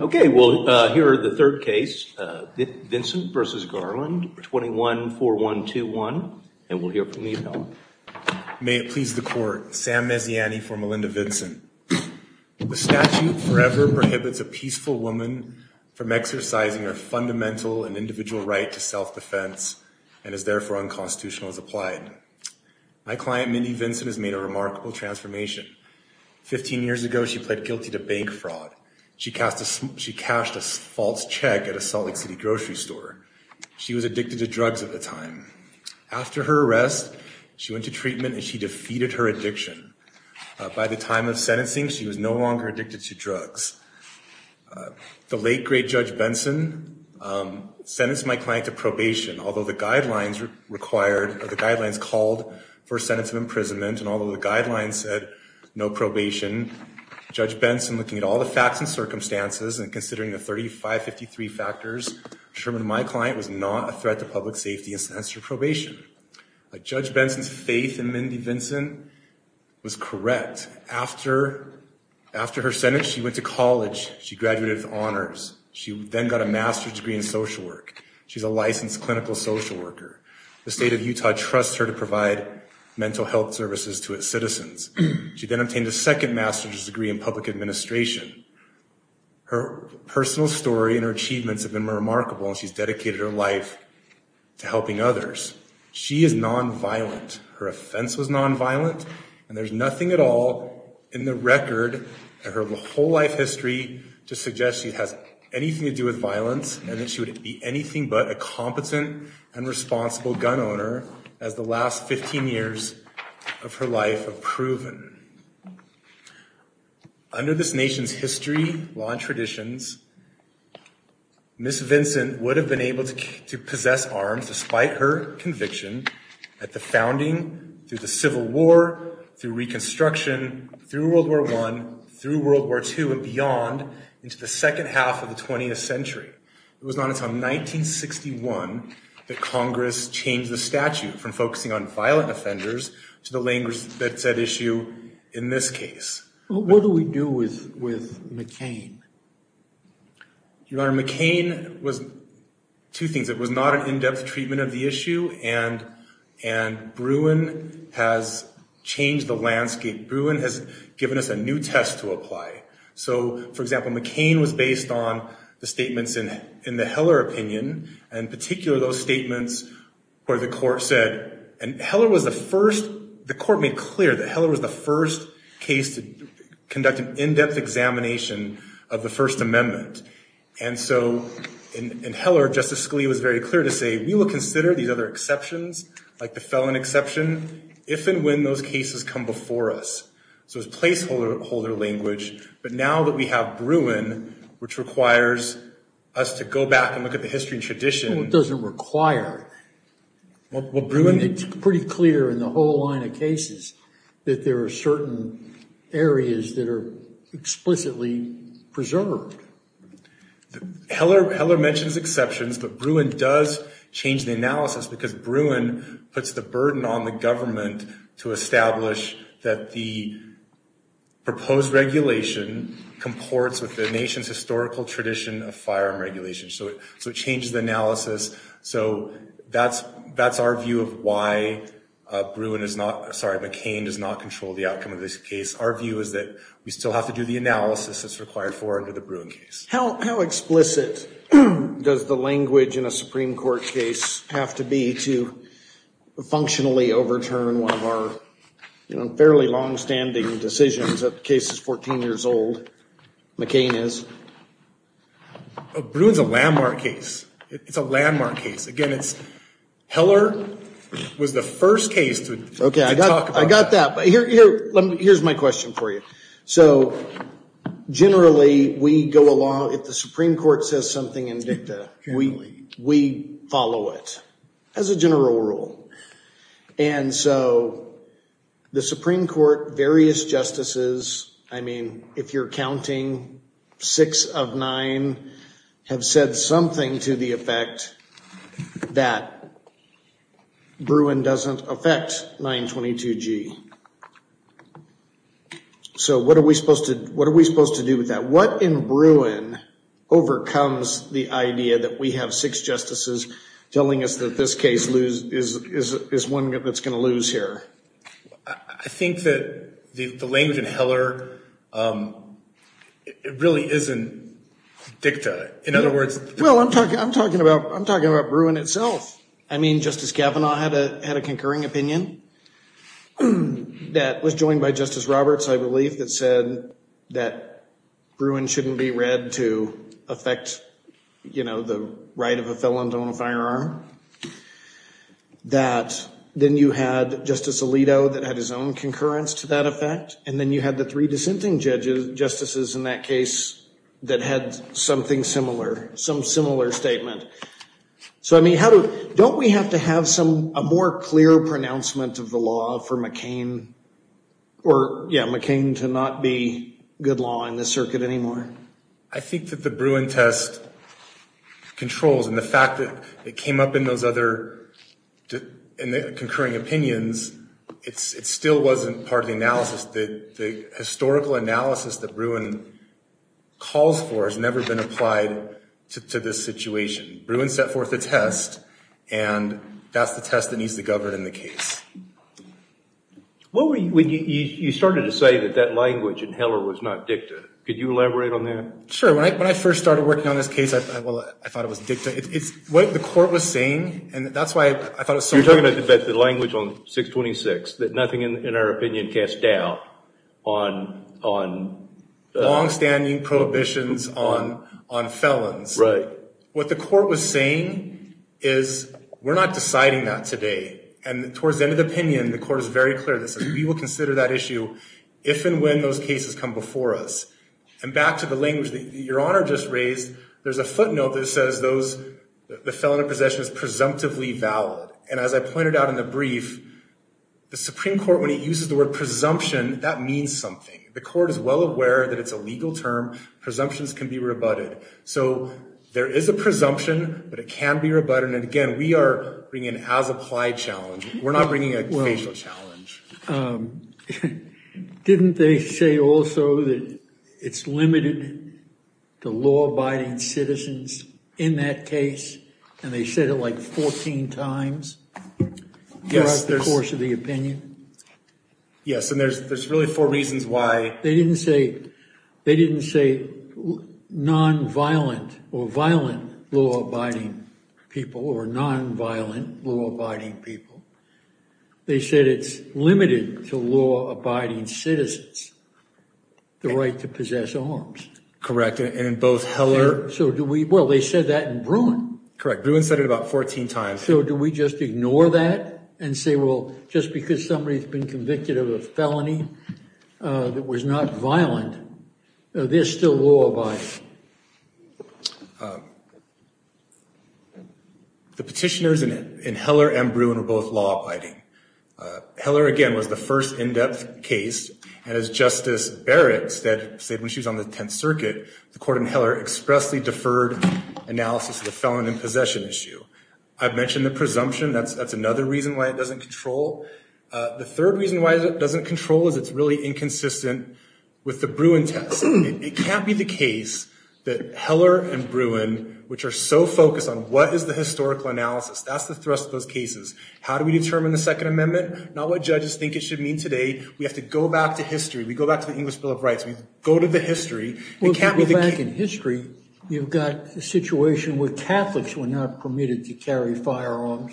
Okay, we'll hear the third case, Vincent v. Garland, 21-4121, and we'll hear from the appellant. May it please the court, Sam Mezziani for Melinda Vincent. The statute forever prohibits a peaceful woman from exercising her fundamental and individual right to self-defense and is therefore unconstitutional as applied. My client Mindy Vincent has made a remarkable transformation. Fifteen years ago, she pled guilty to bank fraud. She cashed a false check at a Salt Lake City grocery store. She was addicted to drugs at the time. After her arrest, she went to treatment and she defeated her addiction. By the time of sentencing, she was no longer addicted to drugs. The late, great Judge Benson sentenced my client to probation, although the guidelines called for a sentence of imprisonment, and although the guidelines said no probation, Judge Benson, looking at all the facts and circumstances and considering the 3553 factors, assuring my client was not a threat to public safety and sentenced her to probation. But Judge Benson's faith in Mindy Vincent was correct. After her sentence, she went to college. She graduated with honors. She then got a master's degree in social work. She's a licensed clinical social worker. The state of Utah trusts her to provide mental health services to its citizens. She then obtained a second master's degree in public administration. Her personal story and her achievements have been remarkable, and she's dedicated her life to helping others. She is non-violent. Her offense was non-violent, and there's nothing at all in the record of her whole life history to suggest she has anything to do with violence, and that she would be anything but a competent and responsible gun owner as the last 15 years of her life have proven. Under this nation's history, law, and traditions, Ms. Vincent would have been able to possess arms despite her conviction at the founding, through the Civil War, through Reconstruction, through World War I, through World War II, and beyond into the second half of the 20th century. It was not until 1961 that Congress changed the statute from focusing on violent offenders to delaying that said issue in this case. What do we do with McCain? Your Honor, McCain was two things. It was not an in-depth treatment of the issue, and Bruin has changed the landscape. Bruin has given us a new test to apply. So, for example, McCain was based on the statements in the Heller opinion, and in particular those statements where the court said, and Heller was the first, the court made clear that Heller was the first case to conduct an in-depth examination of the First Amendment. And so, in Heller, Justice Scalia was very clear to say, we will consider these other exceptions, like the felon exception, if and when those cases come before us. So it was placeholder language, but now that we have Bruin, which requires us to go back and look at the history and tradition... Well, it doesn't require. Well, Bruin... It's pretty clear in the whole line of cases that there are certain areas that are explicitly preserved. Heller mentions exceptions, but Bruin does change the analysis because Bruin puts the burden on the government to establish that the proposed regulation comports with the nation's historical tradition of firearm regulation. So it changes the analysis. So that's our view of why Bruin is not... Sorry, McCain does not control the outcome of this case. Our view is that we still have to do the analysis that's required for under the Bruin case. How explicit does the language in a Supreme Court case have to be to functionally overturn one of our fairly longstanding decisions that the case is 14 years old? McCain is. Bruin's a landmark case. It's a landmark case. Again, it's... Heller was the first case to talk about... I got that, but here's my question for you. So generally, we go along... If the Supreme Court says something in dicta, we follow it as a general rule. And so the Supreme Court, various justices, I mean, if you're counting six of nine, have said something to the effect that Bruin doesn't affect 922G. So what are we supposed to do with that? What in Bruin overcomes the idea that we have six justices telling us that this case is one that's gonna lose here? I think that the language in Heller, it really isn't dicta. In other words... Well, I'm talking about Bruin itself. I mean, Justice Kavanaugh had a concurring opinion that was joined by Justice Roberts, I believe, that said that Bruin shouldn't be read to affect the right of a felon to own a firearm. That then you had Justice Alito that had his own concurrence to that effect. And then you had the three dissenting justices in that case that had something similar, some similar statement. So I mean, don't we have to have a more clear pronouncement of the law for McCain? Or, yeah, McCain to not be good law in this circuit anymore? I think that the Bruin test controls, and the fact that it came up in those other, in the concurring opinions, it still wasn't part of the analysis. The historical analysis that Bruin calls for has never been applied to this situation. Bruin set forth a test, and that's the test that needs to govern in the case. What were you, you started to say that that language in Heller was not dicta. Could you elaborate on that? Sure, when I first started working on this case, well, I thought it was dicta. It's what the court was saying, and that's why I thought it was so important. You're talking about the language on 626, that nothing in our opinion casts doubt on longstanding prohibitions on felons. Right. What the court was saying is, we're not deciding that today. And towards the end of the opinion, the court is very clear that says, we will consider that issue if and when those cases come before us. And back to the language that Your Honor just raised, there's a footnote that says those, the felon in possession is presumptively valid. And as I pointed out in the brief, the Supreme Court, when it uses the word presumption, that means something. The court is well aware that it's a legal term. Presumptions can be rebutted. So there is a presumption, but it can be rebutted. And again, we are bringing an as-applied challenge. We're not bringing a casual challenge. Didn't they say also that it's limited to law-abiding citizens in that case? And they said it like 14 times throughout the course of the opinion? Yes, and there's really four reasons why. They didn't say non-violent or violent law-abiding people or non-violent law-abiding people. They said it's limited to law-abiding citizens the right to possess arms. Correct, and in both Heller- So do we, well, they said that in Bruin. Correct, Bruin said it about 14 times. So do we just ignore that and say, well, just because somebody's been convicted of a felony that was not violent, they're still law-abiding? The petitioners in Heller and Bruin were both law-abiding. Heller, again, was the first in-depth case. And as Justice Barrett said when she was on the Tenth Circuit, the court in Heller expressly deferred analysis of the felon in possession issue. I've mentioned the presumption. That's another reason why it doesn't control. The third reason why it doesn't control is it's really inconsistent with the Bruin test. It can't be the case that Heller and Bruin, which are so focused on what is the historical analysis, that's the thrust of those cases. How do we determine the Second Amendment? Not what judges think it should mean today. We have to go back to history. We go back to the English Bill of Rights. We go to the history. It can't be the- Well, if you go back in history, you've got a situation where Catholics were not permitted to carry firearms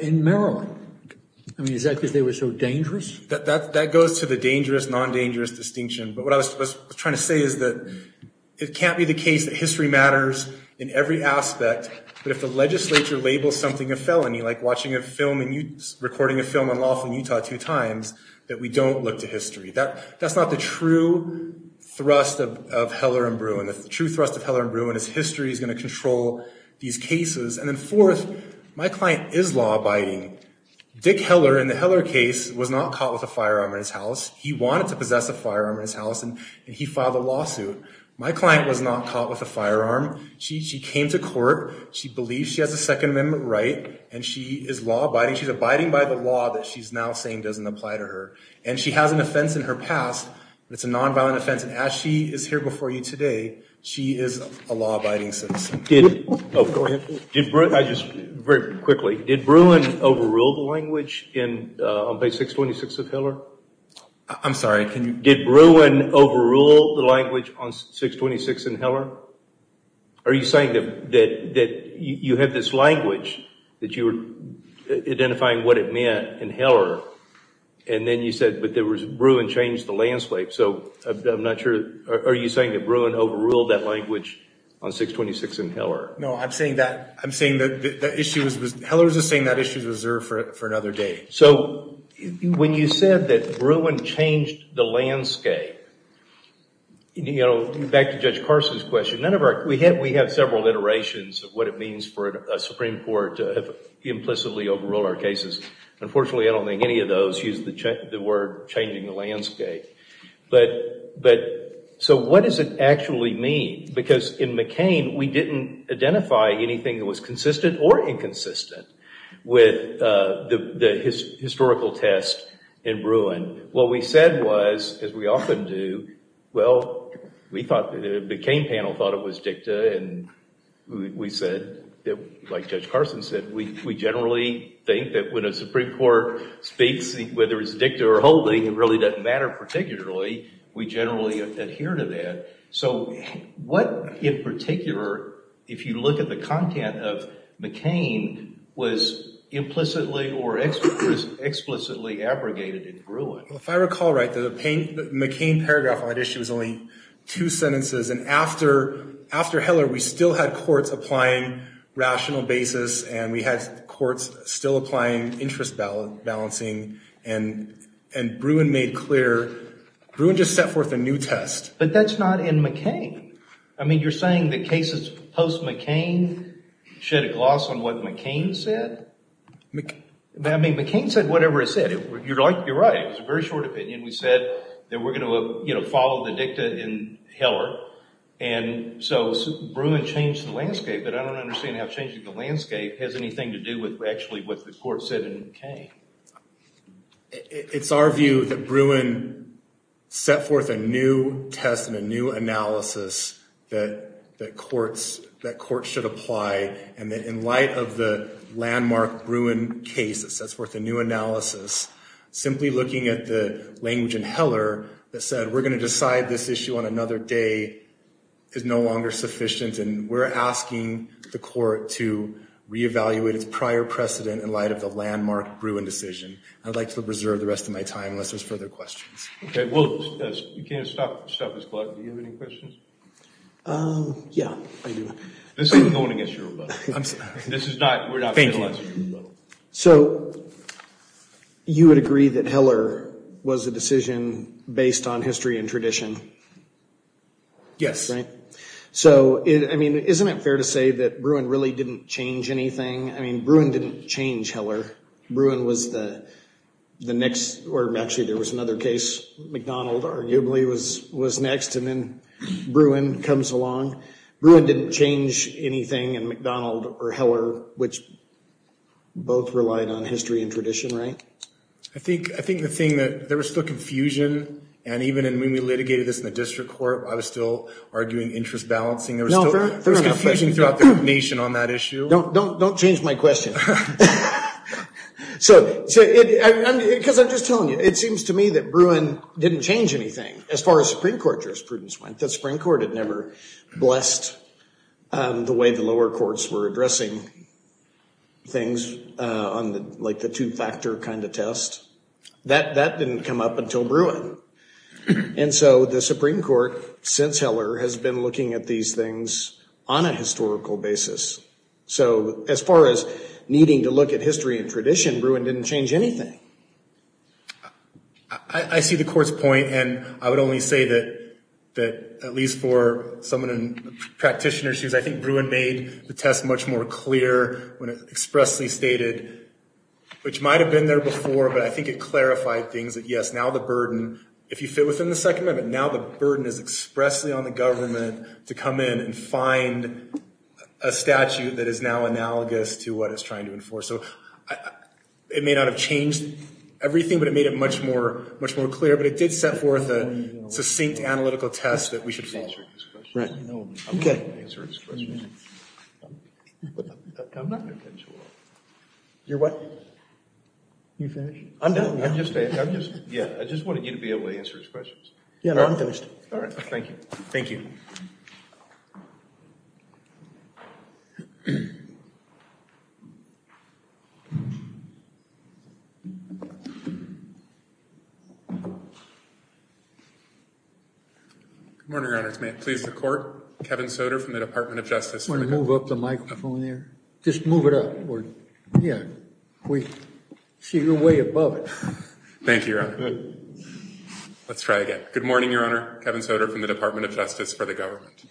in Maryland. I mean, is that because they were so dangerous? That goes to the dangerous, non-dangerous distinction. But what I was trying to say is that it can't be the case that history matters in every aspect, but if the legislature labels something a felony, like watching a film and recording a film on law from Utah two times, that we don't look to history. That's not the true thrust of Heller and Bruin. The true thrust of Heller and Bruin is history is gonna control these cases. And then fourth, my client is law-abiding. Dick Heller, in the Heller case, was not caught with a firearm in his house. He wanted to possess a firearm in his house, and he filed a lawsuit. My client was not caught with a firearm. She came to court. She believes she has a Second Amendment right, and she is law-abiding. She's abiding by the law that she's now saying doesn't apply to her. And she has an offense in her past, but it's a non-violent offense. And as she is here before you today, she is a law-abiding citizen. Did, oh, go ahead. Did Bruin, I just, very quickly, did Bruin overrule the language on page 626 of Heller? I'm sorry, can you? Did Bruin overrule the language on 626 in Heller? Are you saying that you had this language that you were identifying what it meant in Heller, and then you said, but Bruin changed the landscape. So I'm not sure, are you saying that Bruin overruled that language on 626 in Heller? No, I'm saying that Heller's just saying that issue's reserved for another day. So, when you said that Bruin changed the landscape, you know, back to Judge Carson's question, none of our, we have several iterations of what it means for a Supreme Court to have implicitly overruled our cases. Unfortunately, I don't think any of those use the word changing the landscape. But, so what does it actually mean? Because in McCain, we didn't identify anything that was consistent or inconsistent with the historical test in Bruin. What we said was, as we often do, well, we thought, the McCain panel thought it was dicta, and we said, like Judge Carson said, we generally think that when a Supreme Court speaks, whether it's dicta or wholly, it really doesn't matter particularly. We generally adhere to that. So, what in particular, if you look at the content of McCain, was implicitly or explicitly abrogated in Bruin? Well, if I recall right, the McCain paragraph on that issue was only two sentences, and after Heller, we still had courts applying rational basis, and we had courts still applying interest balancing, and Bruin made clear, Bruin just set forth a new test. But that's not in McCain. I mean, you're saying that cases post-McCain shed a gloss on what McCain said? I mean, McCain said whatever it said. You're right, it was a very short opinion. We said that we're gonna follow the dicta in Heller, and so Bruin changed the landscape, but I don't understand how changing the landscape has anything to do with actually what the court said in McCain. It's our view that Bruin set forth a new test and a new analysis that courts should apply, and that in light of the landmark Bruin case that sets forth a new analysis, simply looking at the language in Heller that said we're gonna decide this issue on another day is no longer sufficient, and we're asking the court to reevaluate its prior precedent in light of the landmark Bruin decision. I'd like to preserve the rest of my time unless there's further questions. Okay, we'll, you can't stop this club. Do you have any questions? Yeah, I do. This is going against your rebuttal. This is not, we're not analyzing your rebuttal. So, you would agree that Heller was a decision based on history and tradition? Yes. Right? So, I mean, isn't it fair to say that Bruin really didn't change anything? I mean, Bruin didn't change Heller. Bruin was the next, or actually, there was another case. McDonald, arguably, was next, and then Bruin comes along. Bruin didn't change anything, and McDonald or Heller, which both relied on history and tradition, right? I think the thing that, there was still confusion, and even when we litigated this in the district court, I was still arguing interest balancing. There was still confusion throughout the nation on that issue. Don't change my question. So, because I'm just telling you, it seems to me that Bruin didn't change anything as far as Supreme Court jurisprudence went. The Supreme Court had never blessed the way the lower courts were addressing things on the two-factor kind of test. That didn't come up until Bruin. And so, the Supreme Court, since Heller, has been looking at these things on a historical basis. So, as far as needing to look at history and tradition, Bruin didn't change anything. I see the court's point, and I would only say that, at least for someone in practitioner shoes, I think Bruin made the test much more clear when it expressly stated, which might have been there before, but I think it clarified things, that, yes, now the burden, if you fit within the Second Amendment, now the burden is expressly on the government to come in and find a statute that is now analogous to what it's trying to enforce. So, it may not have changed everything, but it made it much more clear. But it did set forth a succinct analytical test that we should follow. Right, okay. I'm not gonna answer his questions. I'm not gonna answer all of them. You're what? You finished? I'm done, yeah. I'm just, yeah, I just wanted you to be able to answer his questions. Yeah, no, I'm finished. All right, thank you. Thank you. Good morning, Your Honor. It's me, please, the court. Kevin Soder from the Department of Justice. You wanna move up the microphone there? Just move it up, yeah. We see you're way above it. Thank you, Your Honor. Let's try again. Good morning, Your Honor. Kevin Soder from the Department of Justice for the government.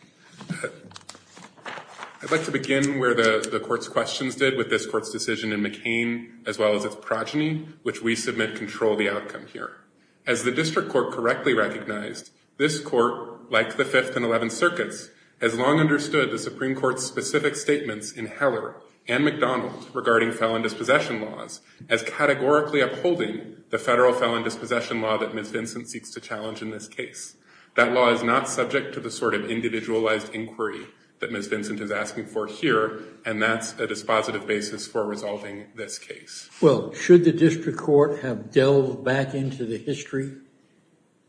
I'd like to begin where the court's questions did with this court's decision in McCain, as well as its progeny, which we submit control the outcome here. As the district court correctly recognized, this court, like the Fifth and Eleventh Circuits, has long understood the Supreme Court's specific statements in Heller and McDonald regarding felon dispossession laws as categorically upholding the federal felon dispossession law that Ms. Vincent seeks to challenge in this case. That law is not subject to the sort of individualized inquiry that Ms. Vincent is asking for here, and that's a dispositive basis for resolving this case. Well, should the district court have delved back into the history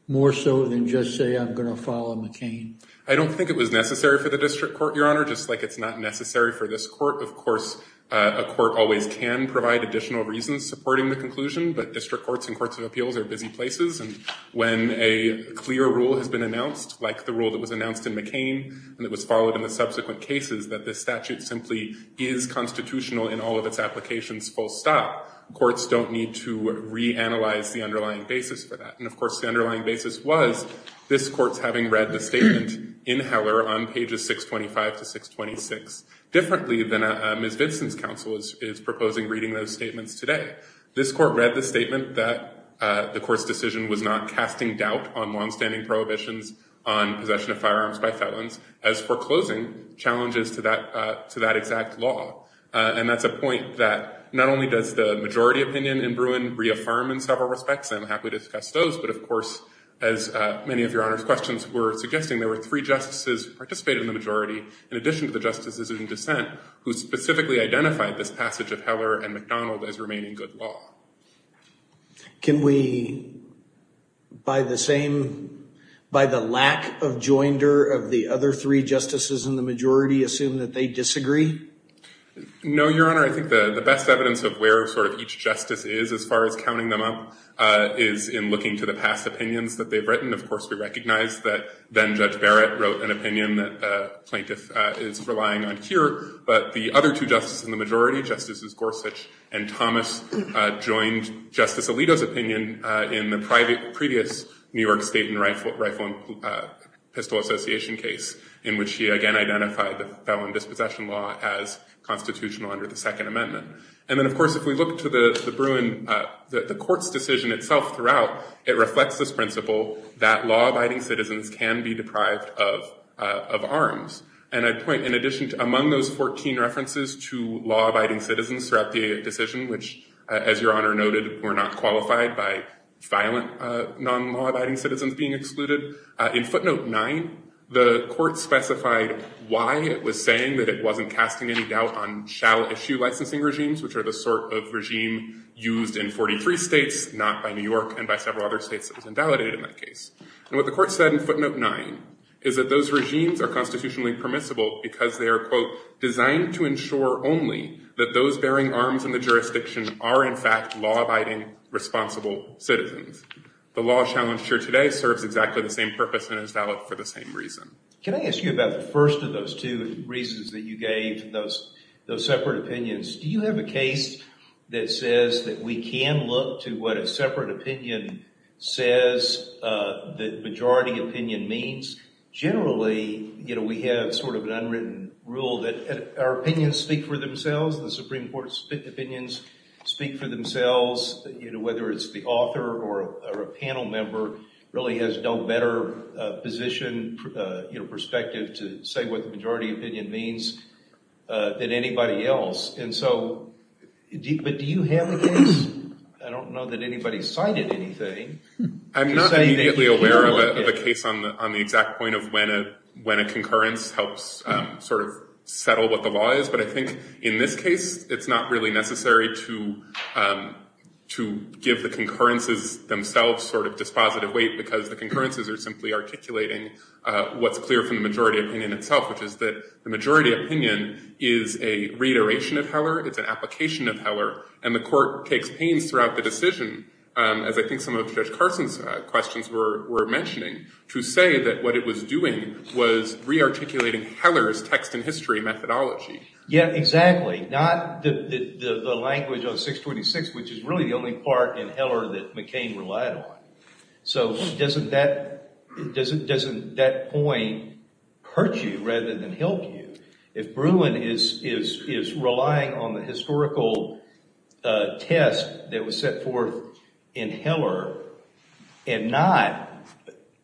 more so than just say, I'm gonna follow McCain? I don't think it was necessary for the district court, Your Honor, just like it's not necessary for this court. Of course, a court always can provide additional reasons supporting the conclusion, but district courts and courts of appeals are busy places, and when a clear rule has been announced, like the rule that was announced in McCain, and it was followed in the subsequent cases that this statute simply is constitutional in all of its applications full stop, courts don't need to reanalyze the underlying basis for that. And of course, the underlying basis was this court's having read the statement in Heller on pages 625 to 626 differently than Ms. Vincent's counsel is proposing reading those statements today. This court read the statement that the court's decision was not casting doubt on longstanding prohibitions on possession of firearms by felons as foreclosing challenges to that exact law. And that's a point that not only does the majority opinion in Bruin reaffirm in several respects, I'm happy to discuss those, but of course, as many of Your Honor's questions were suggesting, there were three justices who participated in the majority in addition to the justices in dissent who specifically identified this passage of Heller and MacDonald as remaining good law. Can we, by the same, by the lack of joinder of the other three justices in the majority assume that they disagree? No, Your Honor, I think the best evidence of where sort of each justice is as far as counting them up is in looking to the past opinions that they've written. Of course, we recognize that then Judge Barrett wrote an opinion that the plaintiff is relying on here, but the other two justices in the majority, Justices Gorsuch and Thomas, joined Justice Alito's opinion in the previous New York State and Rifle and Pistol Association case in which he again identified the felon dispossession law as constitutional under the Second Amendment. And then of course, if we look to the Bruin, the court's decision itself throughout, it reflects this principle that law-abiding citizens can be deprived of arms. And I'd point in addition to among those 14 references to law-abiding citizens throughout the decision, which as Your Honor noted, were not qualified by violent non-law-abiding citizens being excluded, in footnote nine, the court specified why it was saying that it wasn't casting any doubt on shall issue licensing regimes, which are the sort of regime used in 43 states, not by New York and by several other states that was invalidated in that case. And what the court said in footnote nine is that those regimes are constitutionally permissible because they are, quote, designed to ensure only that those bearing arms in the jurisdiction are in fact law-abiding, responsible citizens. The law challenged here today serves exactly the same purpose and is valid for the same reason. Can I ask you about the first of those two reasons that you gave, those separate opinions? Do you have a case that says that we can look to what a separate opinion says that majority opinion means? Generally, we have sort of an unwritten rule that our opinions speak for themselves, the Supreme Court's opinions speak for themselves, whether it's the author or a panel member really has no better position, perspective, to say what the majority opinion means than anybody else. And so, but do you have a case? I don't know that anybody cited anything. I'm not immediately aware of a case on the exact point of when a concurrence helps sort of settle what the law is, but I think in this case, it's not really necessary to give the concurrences themselves sort of dispositive weight because the concurrences are simply articulating what's clear from the majority opinion itself, which is that the majority opinion is a reiteration of Heller, it's an application of Heller, and the court takes pains throughout the decision, as I think some of Judge Carson's questions were mentioning to say that what it was doing was re-articulating Heller's text and history methodology. Yeah, exactly, not the language of 626, which is really the only part in Heller that McCain relied on. So doesn't that point hurt you rather than help you? If Bruin is relying on the historical test that was set forth in Heller and not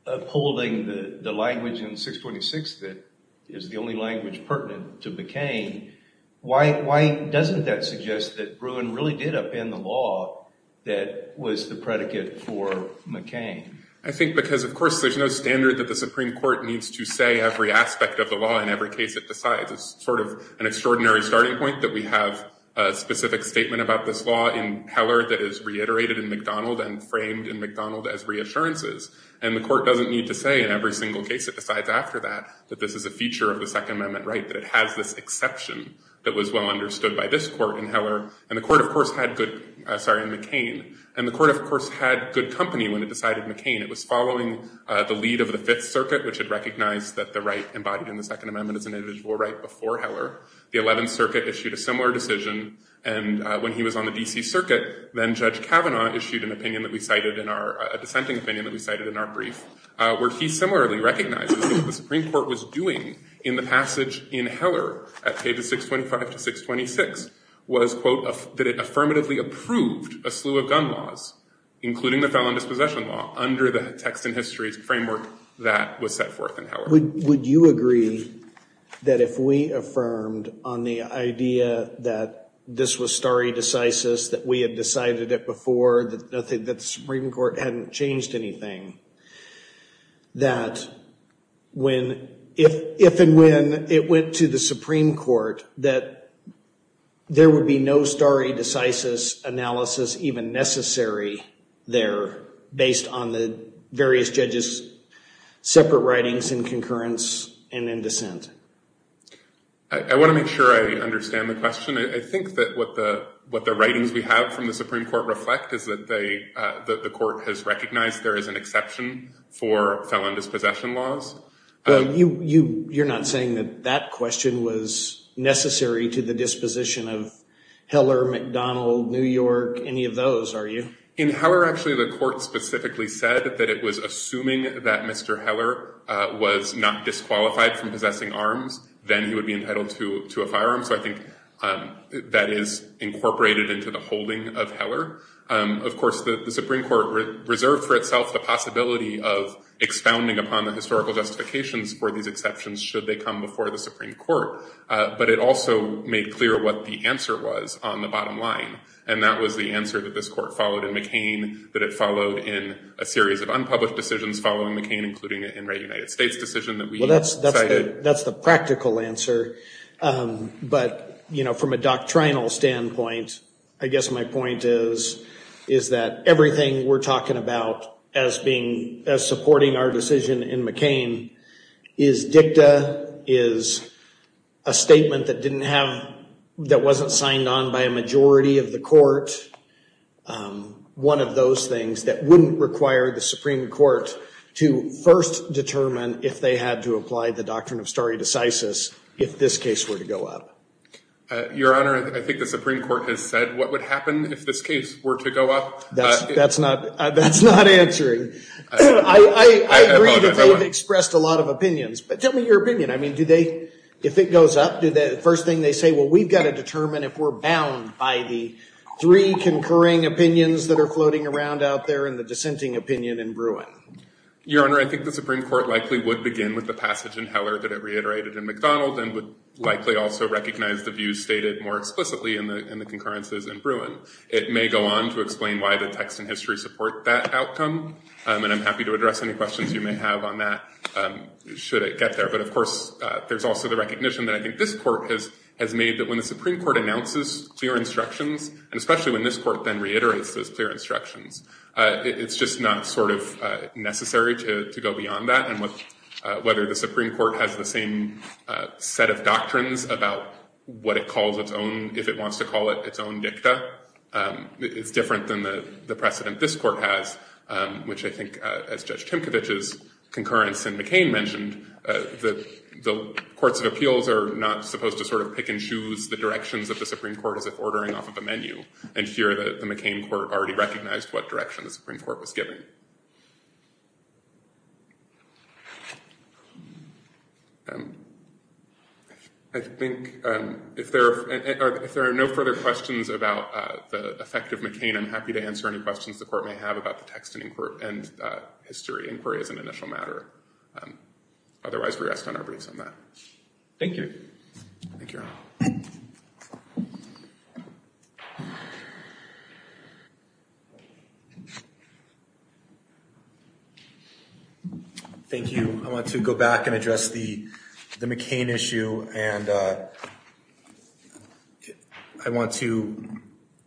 upholding the language in 626 that is the only language pertinent to McCain, why doesn't that suggest that Bruin really did upend the law that was the predicate for McCain? I think because, of course, there's no standard that the Supreme Court needs to say every aspect of the law in every case it decides. It's sort of an extraordinary starting point that we have a specific statement about this law in Heller that is reiterated in McDonald and framed in McDonald as reassurances, and the court doesn't need to say in every single case it decides after that, that this is a feature of the Second Amendment right, that it has this exception that was well understood by this court in Heller, and the court, of course, had good, sorry, in McCain, and the court, of course, had good company when it decided McCain. It was following the lead of the Fifth Circuit, which had recognized that the right embodied in the Second Amendment is an individual right before Heller. The Eleventh Circuit issued a similar decision, and when he was on the D.C. Circuit, then Judge Kavanaugh issued an opinion that we cited in our, a dissenting opinion that we cited in our brief, where he similarly recognizes that what the Supreme Court was doing in the passage in Heller at pages 625 to 626 was, quote, that it affirmatively approved a slew of gun laws, including the felon dispossession law, under the text and histories framework that was set forth in Heller. Would you agree that if we affirmed on the idea that this was stare decisis, that we had decided it before, that the Supreme Court hadn't changed anything, that if and when it went to the Supreme Court, that there would be no stare decisis analysis even necessary there, based on the various judges' separate writings in concurrence and in dissent? I want to make sure I understand the question. I think that what the writings we have from the Supreme Court reflect is that the court has recognized there is an exception for felon dispossession laws. Well, you're not saying that that question was necessary to the disposition of Heller, McDonald, New York, any of those, are you? In Heller, actually, the court specifically said that it was assuming that Mr. Heller was not disqualified from possessing arms then he would be entitled to a firearm. So I think that is incorporated into the holding of Heller. Of course, the Supreme Court reserved for itself the possibility of expounding upon the historical justifications for these exceptions should they come before the Supreme Court, but it also made clear what the answer was on the bottom line, and that was the answer that this court followed in McCain, that it followed in a series of unpublished decisions following McCain, including the United States decision that we cited. That's the practical answer, but from a doctrinal standpoint, I guess my point is that everything we're talking about as being, as supporting our decision in McCain is dicta, is a statement that didn't have, that wasn't signed on by a majority of the court, one of those things that wouldn't require the Supreme Court to first determine if they had to apply the doctrine of stare decisis if this case were to go up. Your Honor, I think the Supreme Court has said what would happen if this case were to go up. That's not, that's not answering. I agree that they've expressed a lot of opinions, but tell me your opinion. I mean, do they, if it goes up, do they, first thing they say, well, we've got to determine if we're bound by the three concurring opinions that are floating around out there and the dissenting opinion in Bruin? Your Honor, I think the Supreme Court likely would begin with the passage in Heller that it reiterated in McDonald and would likely also recognize the views stated more explicitly in the concurrences in Bruin. It may go on to explain why the text and history support that outcome, and I'm happy to address any questions you may have on that should it get there, but of course, there's also the recognition that I think this court has made that when the Supreme Court announces clear instructions, and especially when this court then reiterates those clear instructions, it's just not sort of necessary to go beyond that, and whether the Supreme Court has the same set of doctrines about what it calls its own, if it wants to call it its own dicta, it's different than the precedent this court has, which I think, as Judge Timkovich's concurrence in McCain mentioned, the courts of appeals are not supposed to sort of pick and choose the directions of the Supreme Court as if ordering off of a menu and fear that the McCain court already recognized what direction the Supreme Court was giving. I think if there are no further questions about the effect of McCain, I'm happy to answer any questions the court may have about the text and history inquiry as an initial matter. Otherwise, we rest on our briefs on that. Thank you. Thank you. Thank you. Thank you. I want to go back and address the McCain issue, and I want to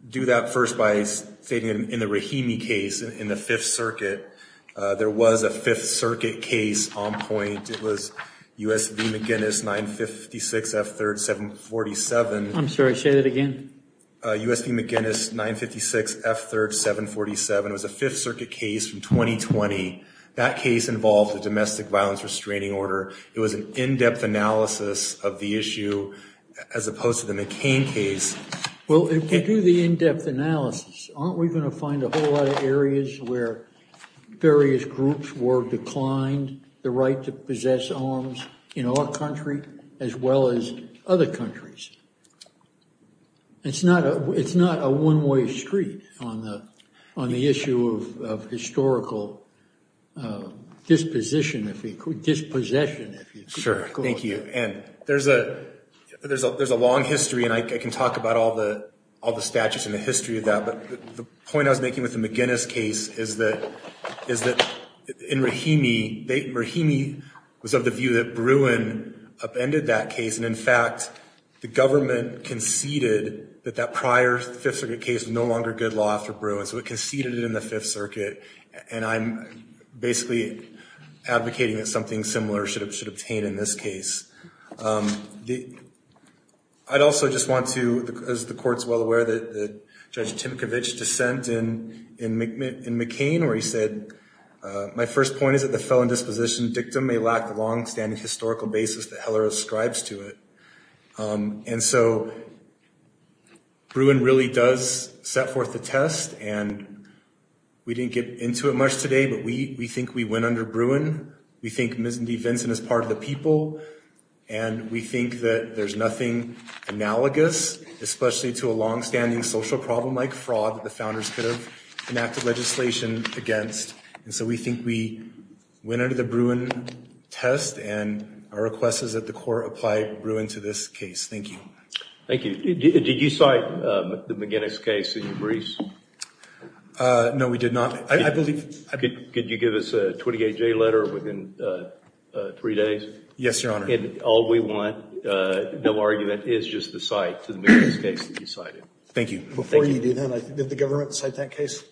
do that first by stating in the Rahimi case in the Fifth Circuit, there was a Fifth Circuit case on point. It was U.S. v. McGinnis, 956 F. 3rd, 747. I'm sorry, say that again. U.S. v. McGinnis, 956 F. 3rd, 747. It was a Fifth Circuit case from 2020. That case involved a domestic violence restraining order. It was an in-depth analysis of the issue as opposed to the McCain case. Well, if you do the in-depth analysis, aren't we going to find a whole lot of areas where various groups were declined the right to possess arms in our country as well as other countries? It's not a one-way street on the issue of historical disposition, if you could, dispossession. Sure, thank you, and there's a long history, and I can talk about all the statutes and the history of that, but the point I was making with the McGinnis case is that in Rahimi, Rahimi was of the view that Bruin upended that case, and in fact, the government conceded that that prior Fifth Circuit case was no longer good law after Bruin, so it conceded it in the Fifth Circuit, and I'm basically advocating that something similar should obtain in this case. I'd also just want to, as the Court's well aware, that Judge Timkovich dissent in McCain, where he said, my first point is that the felon disposition dictum may lack the longstanding historical basis that Heller ascribes to it, and so Bruin really does set forth the test, and we didn't get into it much today, but we think we went under Bruin. We think Ms. DeVinson is part of the people, and we think that there's nothing analogous, especially to a longstanding social problem like fraud that the founders could have enacted legislation against, and so we think we went under the Bruin test, and our request is that the Court apply Bruin to this case, thank you. Thank you, did you cite the McGinnis case in your briefs? No, we did not, I believe. Could you give us a 28-day letter within three days? Yes, Your Honor. And all we want, no argument, is just the cite to the McGinnis case that you cited. Thank you. Before you do that, did the government cite that case?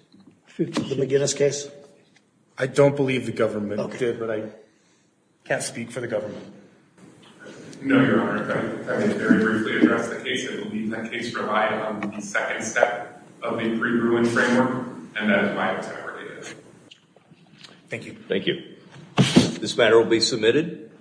The McGinnis case? I don't believe the government did, but I can't speak for the government. No, Your Honor, if I could very briefly address the case, I believe that case relied on the second step of the pre-Bruin framework, and that is why it's not related. This matter will be submitted.